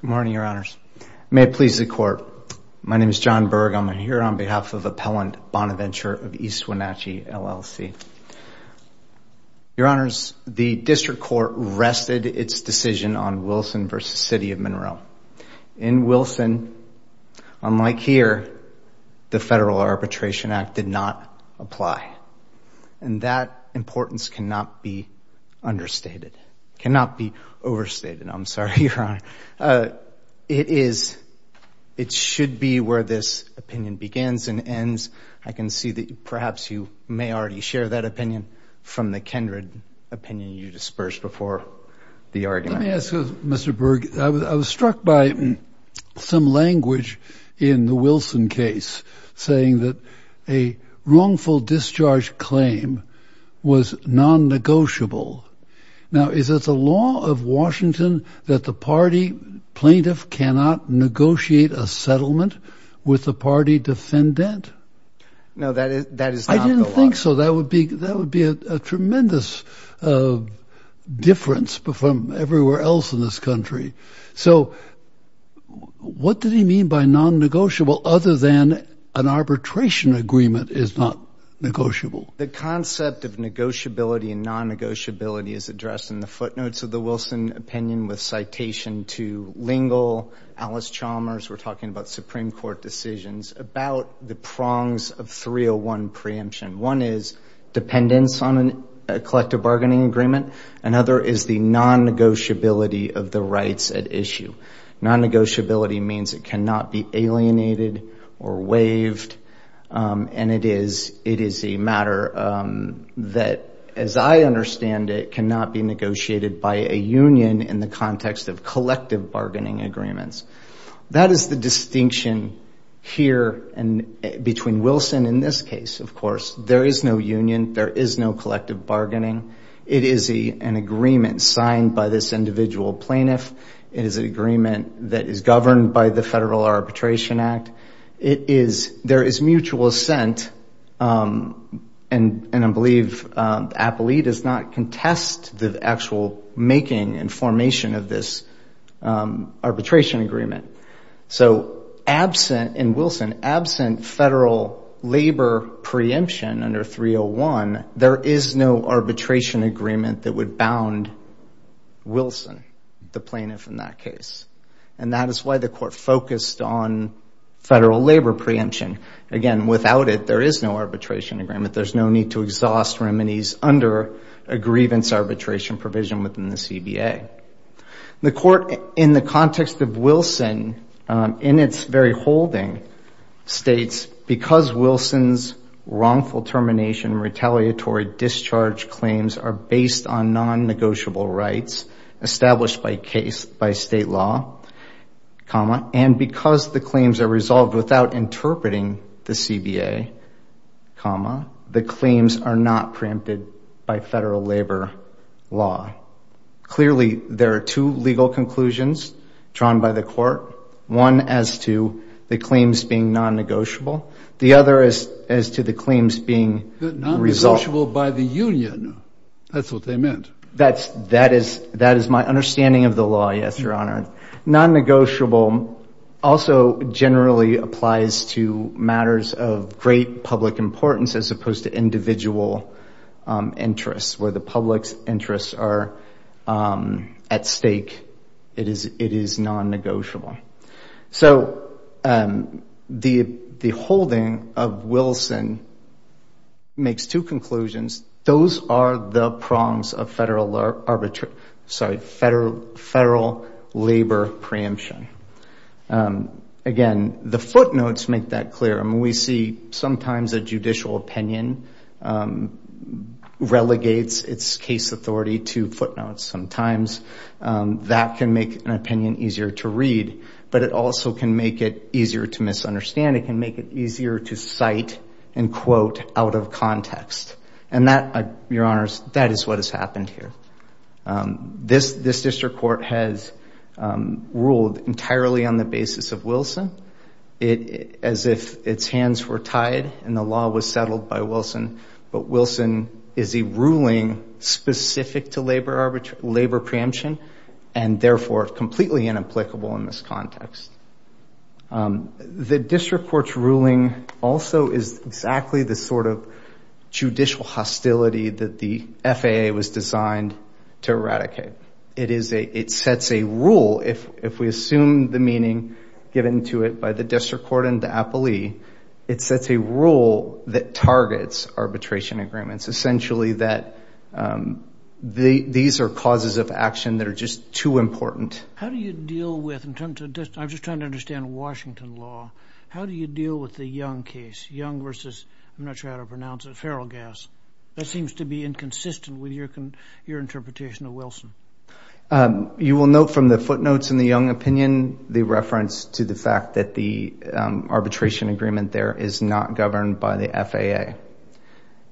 Good morning, Your Honors. May it please the Court. My name is John Berg. I'm here on behalf of Appellant Bonaventure of East Wenatchee, LLC. Your Honors, the District Court rested its decision on Wilson v. City of Monroe. In Wilson, unlike here, the Federal Arbitration Act did not apply, and that importance cannot be understated, cannot be overstated. And I'm sorry, Your Honor, it is, it should be where this opinion begins and ends. I can see that perhaps you may already share that opinion from the kindred opinion you dispersed before the argument. Let me ask you, Mr. Berg, I was struck by some language in the Wilson case saying that a wrongful discharge claim was non-negotiable. Now, is it the law of Washington that the party plaintiff cannot negotiate a settlement with the party defendant? No, that is not the law. I didn't think so. That would be a tremendous difference from everywhere else in this country. So what did he mean by non-negotiable other than an arbitration agreement is not negotiable? The concept of negotiability and non-negotiability is addressed in the footnotes of the Wilson opinion with citation to Lingle, Alice Chalmers, we're talking about Supreme Court decisions about the prongs of 301 preemption. One is dependence on a collective bargaining agreement. Another is the non-negotiability of the rights at issue. Non-negotiability means it cannot be alienated or waived. And it is a matter that, as I understand it, cannot be negotiated by a union in the context of collective bargaining agreements. That is the distinction here between Wilson and this case, of course. There is no union. There is no collective bargaining. It is an agreement signed by this individual plaintiff. It is an agreement that is governed by the Federal Arbitration Act. There is mutual assent, and I believe Appley does not contest the actual making and formation of this arbitration agreement. So in Wilson, absent federal labor preemption under 301, there is no arbitration agreement that would bound Wilson, the plaintiff in that case. And that is why the court focused on federal labor preemption. Again, without it, there is no arbitration agreement. There's no need to exhaust remedies under a grievance arbitration provision within the CBA. The court, in the context of Wilson, in its very holding, states, because Wilson's wrongful termination, retaliatory discharge claims are based on non-negotiable rights established by state law, and because the claims are resolved without interpreting the CBA, the claims are not preempted by federal labor law. Clearly, there are two legal conclusions drawn by the court, one as to the claims being non-negotiable, the other as to the claims being resolved. Non-negotiable by the union, that's what they meant. That is my understanding of the law, yes, Your Honor. Non-negotiable also generally applies to matters of great public importance as opposed to individual interests, where the public's interests are at stake, it is non-negotiable. So the holding of Wilson makes two conclusions. Those are the prongs of federal labor preemption. Again, the footnotes make that clear. We see sometimes a judicial opinion relegates its case authority to footnotes. Sometimes that can make an opinion easier to read, but it also can make it easier to misunderstand. It can make it easier to cite and quote out of context. And that, Your Honors, that is what has happened here. This district court has ruled entirely on the basis of Wilson, as if its hands were labor preemption and therefore completely inapplicable in this context. The district court's ruling also is exactly the sort of judicial hostility that the FAA was designed to eradicate. It sets a rule, if we assume the meaning given to it by the district court and the appellee, it sets a rule that targets arbitration agreements. It's essentially that these are causes of action that are just too important. How do you deal with, in terms of, I'm just trying to understand Washington law, how do you deal with the Young case, Young versus, I'm not sure how to pronounce it, Feralgas? That seems to be inconsistent with your interpretation of Wilson. You will note from the footnotes in the Young opinion, the reference to the fact that the arbitration agreement there is not governed by the FAA.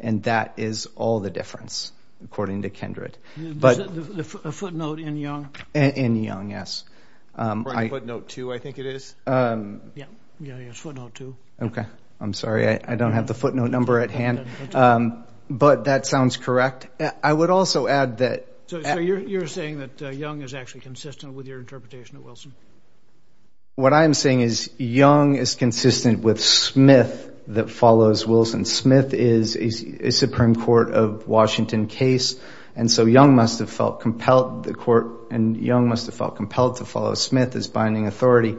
And that is all the difference, according to Kendred. Is it the footnote in Young? In Young, yes. Or in footnote two, I think it is. Yeah, yeah, it's footnote two. Okay, I'm sorry, I don't have the footnote number at hand. But that sounds correct. I would also add that- So you're saying that Young is actually consistent with your interpretation of Wilson? What I'm saying is Young is consistent with Smith that follows Wilson. Smith is a Supreme Court of Washington case, and so Young must have felt compelled to follow Smith as binding authority.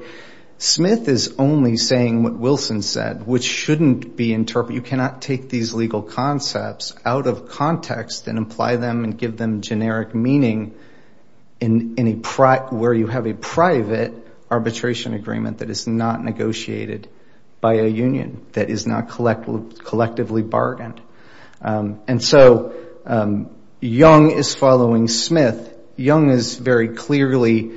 Smith is only saying what Wilson said, which shouldn't be interpreted. You cannot take these legal concepts out of context and apply them and give them generic meaning where you have a private arbitration agreement that is not negotiated by a union, that is not collectively bargained. And so Young is following Smith. Young is very clearly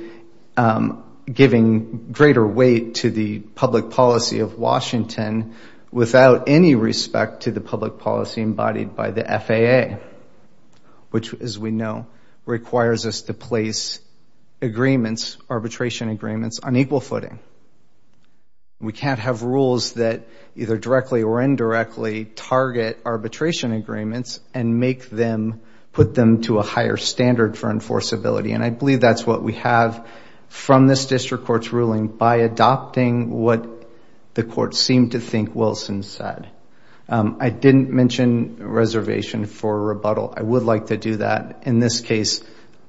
giving greater weight to the public policy of Washington without any respect to the public policy embodied by the FAA, which, as we know, requires us to place agreements, arbitration agreements, on equal footing. We can't have rules that either directly or indirectly target arbitration agreements and make them, put them to a higher standard for enforceability. And I believe that's what we have from this district court's ruling by adopting what the FAA said. I didn't mention reservation for rebuttal. I would like to do that. In this case,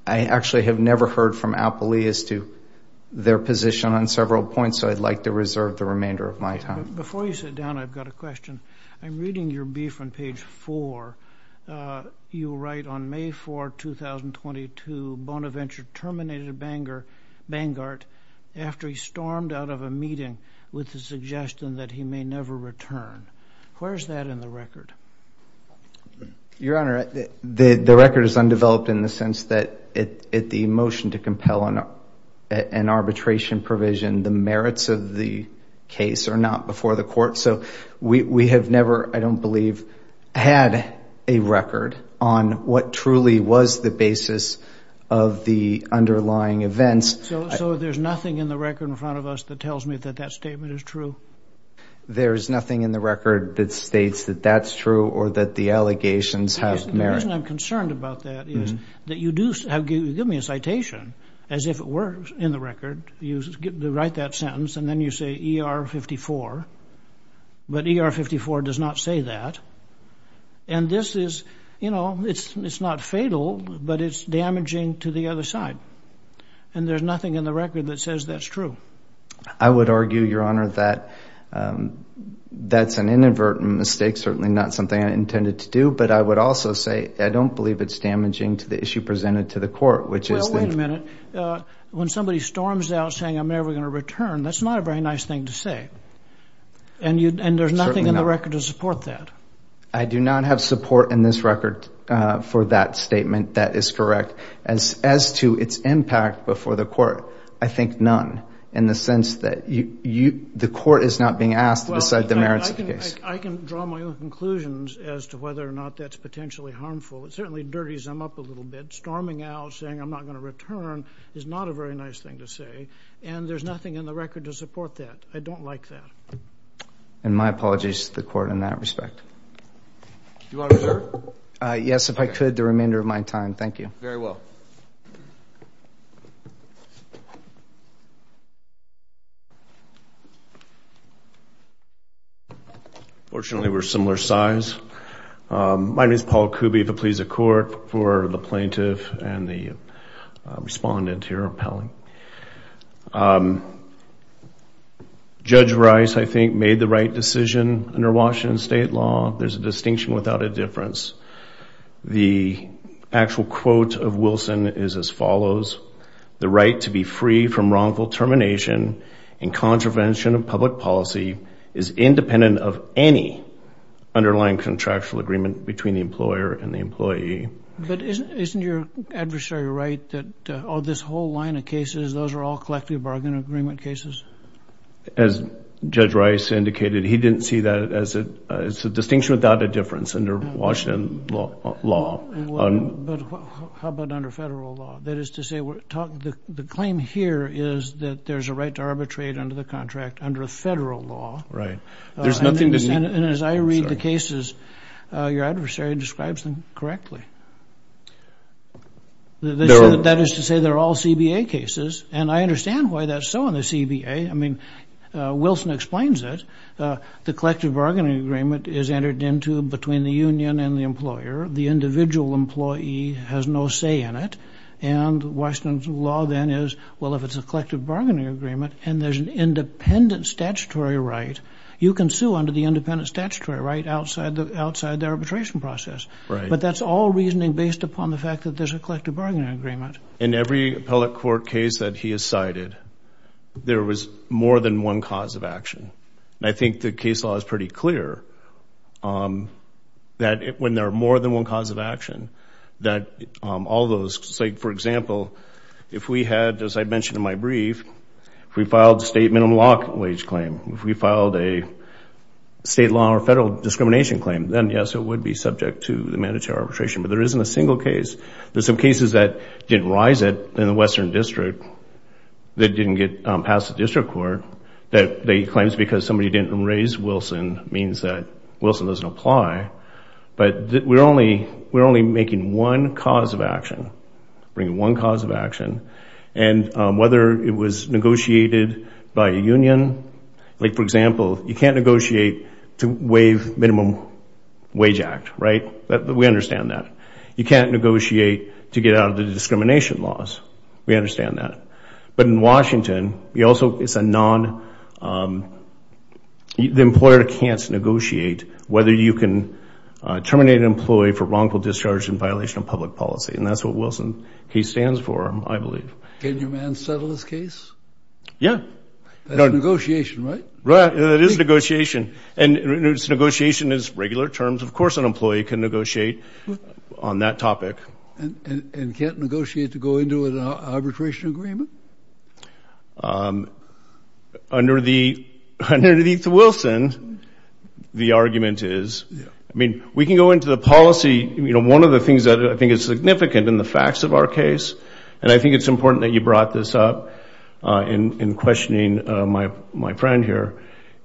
I actually have never heard from Appley as to their position on several points, so I'd like to reserve the remainder of my time. Before you sit down, I've got a question. I'm reading your brief on page four. You write, on May 4, 2022, Bonaventure terminated Bangor, Bangor, after he stormed out of a Where's that in the record? Your Honor, the record is undeveloped in the sense that the motion to compel an arbitration provision, the merits of the case are not before the court. So we have never, I don't believe, had a record on what truly was the basis of the underlying events. So there's nothing in the record in front of us that tells me that that statement is true? There's nothing in the record that states that that's true or that the allegations have The reason I'm concerned about that is that you do give me a citation as if it were in the record. You write that sentence and then you say ER 54, but ER 54 does not say that. And this is, you know, it's not fatal, but it's damaging to the other side. And there's nothing in the record that says that's true. I would argue, Your Honor, that that's an inadvertent mistake, certainly not something I intended to do. But I would also say I don't believe it's damaging to the issue presented to the court, which is Well, wait a minute. When somebody storms out saying I'm never going to return, that's not a very nice thing to say. And there's nothing in the record to support that. I do not have support in this record for that statement that is correct. As to its impact before the court, I think none in the sense that the court is not being asked to decide the merits of the case. I can draw my own conclusions as to whether or not that's potentially harmful. It certainly dirties them up a little bit. Storming out saying I'm not going to return is not a very nice thing to say. And there's nothing in the record to support that. I don't like that. And my apologies to the court in that respect. Do you want to return? Yes, if I could, the remainder of my time. Thank you. Very well. Unfortunately, we're similar size. My name is Paul Kuby of the Pleas of Court for the plaintiff and the respondent here repelling. Judge Rice, I think, made the right decision under Washington state law. There's a distinction without a difference. The actual quote of Wilson is as follows, the right to be free from wrongful termination and contravention of public policy is independent of any underlying contractual agreement between the employer and the employee. But isn't your adversary right that all this whole line of cases, those are all collective bargain agreement cases? As Judge Rice indicated, he didn't see that as a distinction without a difference under Washington law. But how about under federal law? That is to say, the claim here is that there's a right to arbitrate under the contract under federal law. Right. There's nothing to... And as I read the cases, your adversary describes them correctly. That is to say, they're all CBA cases. And I understand why that's so in the CBA. I mean, Wilson explains it. The collective bargaining agreement is entered into between the union and the employer. The individual employee has no say in it. And Washington's law then is, well, if it's a collective bargaining agreement and there's an independent statutory right, you can sue under the independent statutory right outside the arbitration process. But that's all reasoning based upon the fact that there's a collective bargaining agreement. In every appellate court case that he has cited, there was more than one cause of action. And I think the case law is pretty clear that when there are more than one cause of action, that all those... For example, if we had, as I mentioned in my brief, if we filed a state minimum wage claim, if we filed a state law or federal discrimination claim, then yes, it would be subject to the mandatory arbitration. But there isn't a single case. There's some cases that didn't rise it in the Western District that didn't get passed the district court that he claims because somebody didn't raise Wilson means that Wilson doesn't apply. But we're only making one cause of action, bringing one cause of action. And whether it was negotiated by a union, like for example, you can't negotiate to waive minimum wage act, right? We understand that. You can't negotiate to get out of the discrimination laws. We understand that. But in Washington, the employer can't negotiate whether you can terminate an employee for wrongful discharge in violation of public policy. And that's what Wilson case stands for, I believe. Can your man settle this case? Yeah. That's negotiation, right? Right. It is negotiation. And negotiation is regular terms. Of course, an employee can negotiate on that topic. And can't negotiate to go into an arbitration agreement? Under the Wilson, the argument is, I mean, we can go into the policy. One of the things that I think is significant in the facts of our case, and I think it's important that you brought this up in questioning my friend here,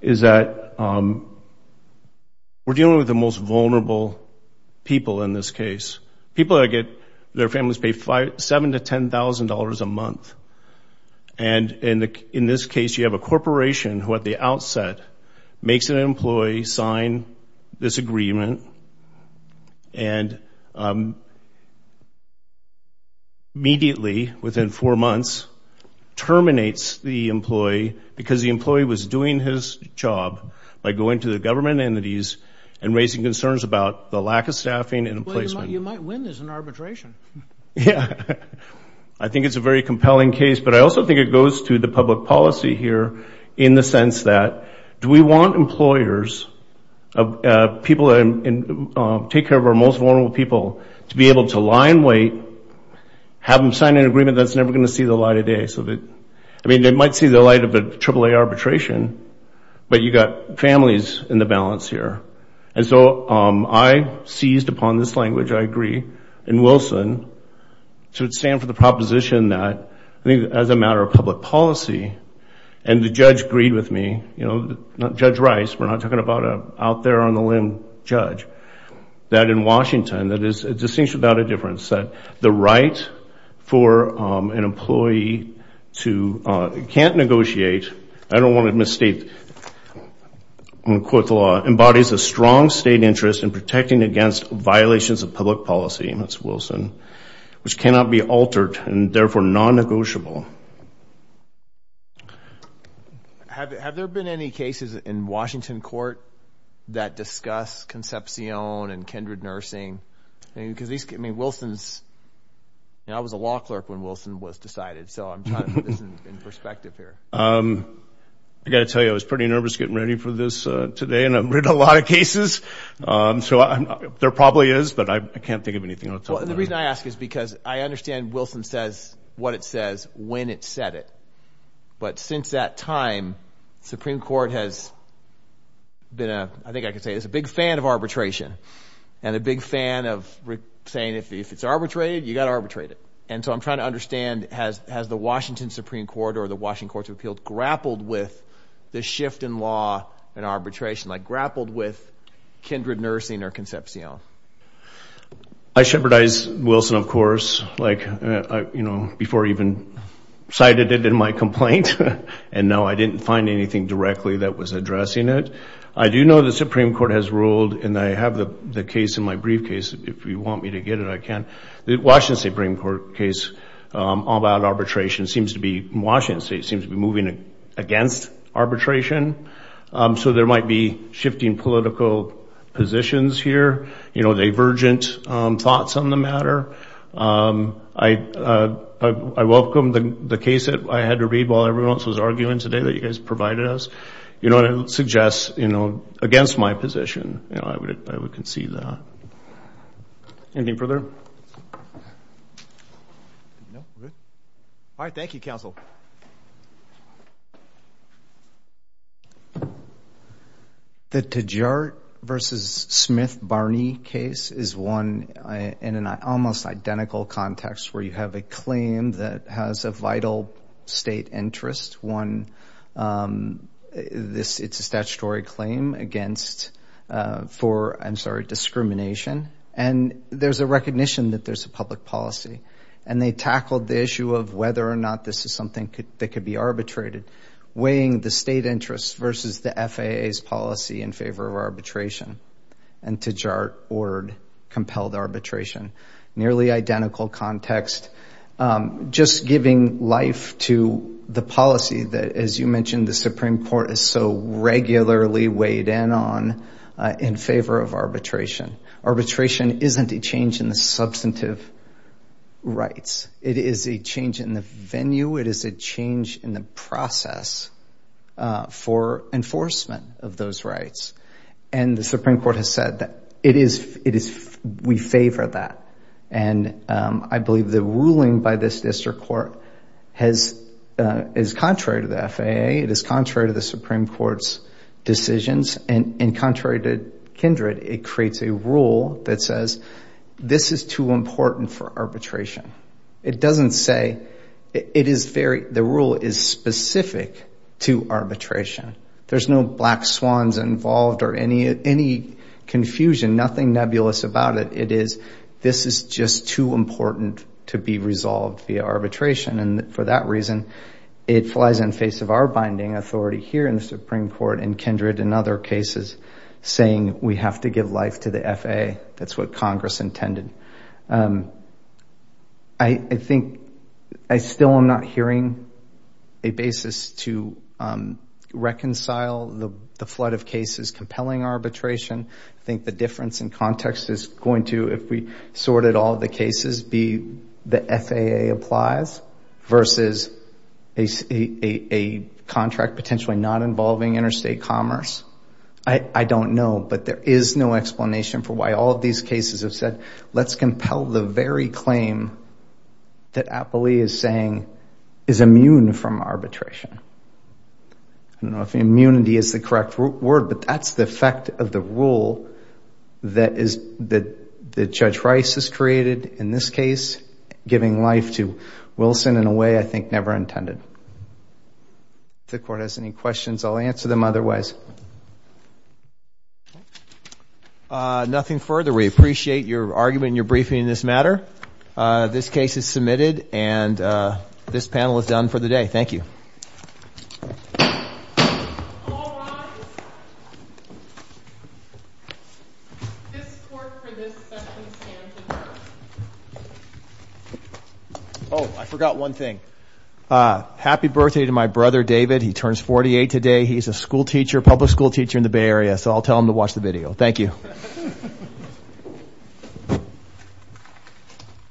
is that we're dealing with the most vulnerable people in this case. People that get their families pay $7,000 to $10,000 a month. And in this case, you have a corporation who at the outset makes an employee sign this agreement and immediately, within four months, terminates the employee because the employee was doing his job by going to the government entities and raising concerns about the lack of staffing and placement. You might win this in arbitration. Yeah. I think it's a very compelling case. But I also think it goes to the public policy here in the sense that, do we want employers, people that take care of our most vulnerable people, to be able to lie in wait, have them sign an agreement that's never going to see the light of day? I mean, they might see the light of a AAA arbitration, but you've got families in the balance here. And so I seized upon this language, I agree, in Wilson to stand for the proposition that, as a matter of public policy, and the judge agreed with me, Judge Rice, we're not talking about an out-there-on-the-limb judge, that in Washington, that is a distinction without a difference, that the right for an employee to can't negotiate, I don't want to misstate, I'm going to quote the law, embodies a strong state interest in protecting against violations of public policy, and that's Wilson, which cannot be altered, and therefore non-negotiable. Have there been any cases in Washington court that discuss Concepcion and kindred nursing? I mean, because these, I mean, Wilson's, you know, I was a law clerk when Wilson was decided, so I'm trying to put this in perspective here. I've got to tell you, I was pretty nervous getting ready for this today, and I've read a lot of cases, so there probably is, but I can't think of anything I want to talk about. Well, and the reason I ask is because I understand Wilson says what it says when it said it, but since that time, Supreme Court has been a, I think I could say, is a big fan of arbitration, and a big fan of saying if it's arbitrated, you've got to arbitrate it. And so I'm trying to understand, has the Washington Supreme Court or the Washington courts of appeals grappled with the shift in law and arbitration, like grappled with kindred nursing or Concepcion? I shepherdized Wilson, of course, like, you know, before I even cited it in my complaint, and no, I didn't find anything directly that was addressing it. I do know the Supreme Court has ruled, and I have the case in my briefcase, if you want me to get it, I can. The Washington Supreme Court case about arbitration seems to be, Washington State seems to be moving against arbitration. So there might be shifting political positions here, you know, divergent thoughts on the matter. I welcome the case that I had to read while everyone else was arguing today that you guys provided us. You know, and I would suggest, you know, against my position, you know, I would concede that. Anything further? No? Good. All right. Thank you, counsel. The Tejart versus Smith-Barney case is one in an almost identical context where you have a claim that has a vital state interest, one, it's a statutory claim against, for, I'm sorry, discrimination. And there's a recognition that there's a public policy, and they tackled the issue of whether or not this is something that could be arbitrated. Weighing the state interest versus the FAA's policy in favor of arbitration. And Tejart ordered compelled arbitration. Nearly identical context. Just giving life to the policy that, as you mentioned, the Supreme Court is so regularly weighed in on in favor of arbitration. Arbitration isn't a change in the substantive rights. It is a change in the venue. It is a change in the process for enforcement of those rights. And the Supreme Court has said that it is, we favor that. And I believe the ruling by this district court has, is contrary to the FAA, it is contrary to the Supreme Court's decisions, and contrary to Kindred, it creates a rule that says this is too important for arbitration. It doesn't say, it is very, the rule is specific to arbitration. There's no black swans involved or any confusion, nothing nebulous about it. It is, this is just too important to be resolved via arbitration. And for that reason, it flies in face of our binding authority here in the Supreme Court and Kindred and other cases saying we have to give life to the FAA. That's what Congress intended. I think, I still am not hearing a basis to reconcile the flood of cases compelling arbitration. I think the difference in context is going to, if we sorted all the cases, be the FAA applies versus a contract potentially not involving interstate commerce. I don't know, but there is no explanation for why all of these cases have said, let's compel the very claim that Appley is saying is immune from arbitration. I don't know if immunity is the correct word, but that's the effect of the rule that is, that Judge Rice has created in this case, giving life to Wilson in a way I think never intended. If the court has any questions, I'll answer them otherwise. Nothing further. We appreciate your argument and your briefing in this matter. This case is submitted and this panel is done for the day. Thank you. All rise. Oh, I forgot one thing. Happy birthday to my brother, David. He turns 48 today. He's a school teacher, public school teacher in the Bay Area, so I'll tell him to watch the video.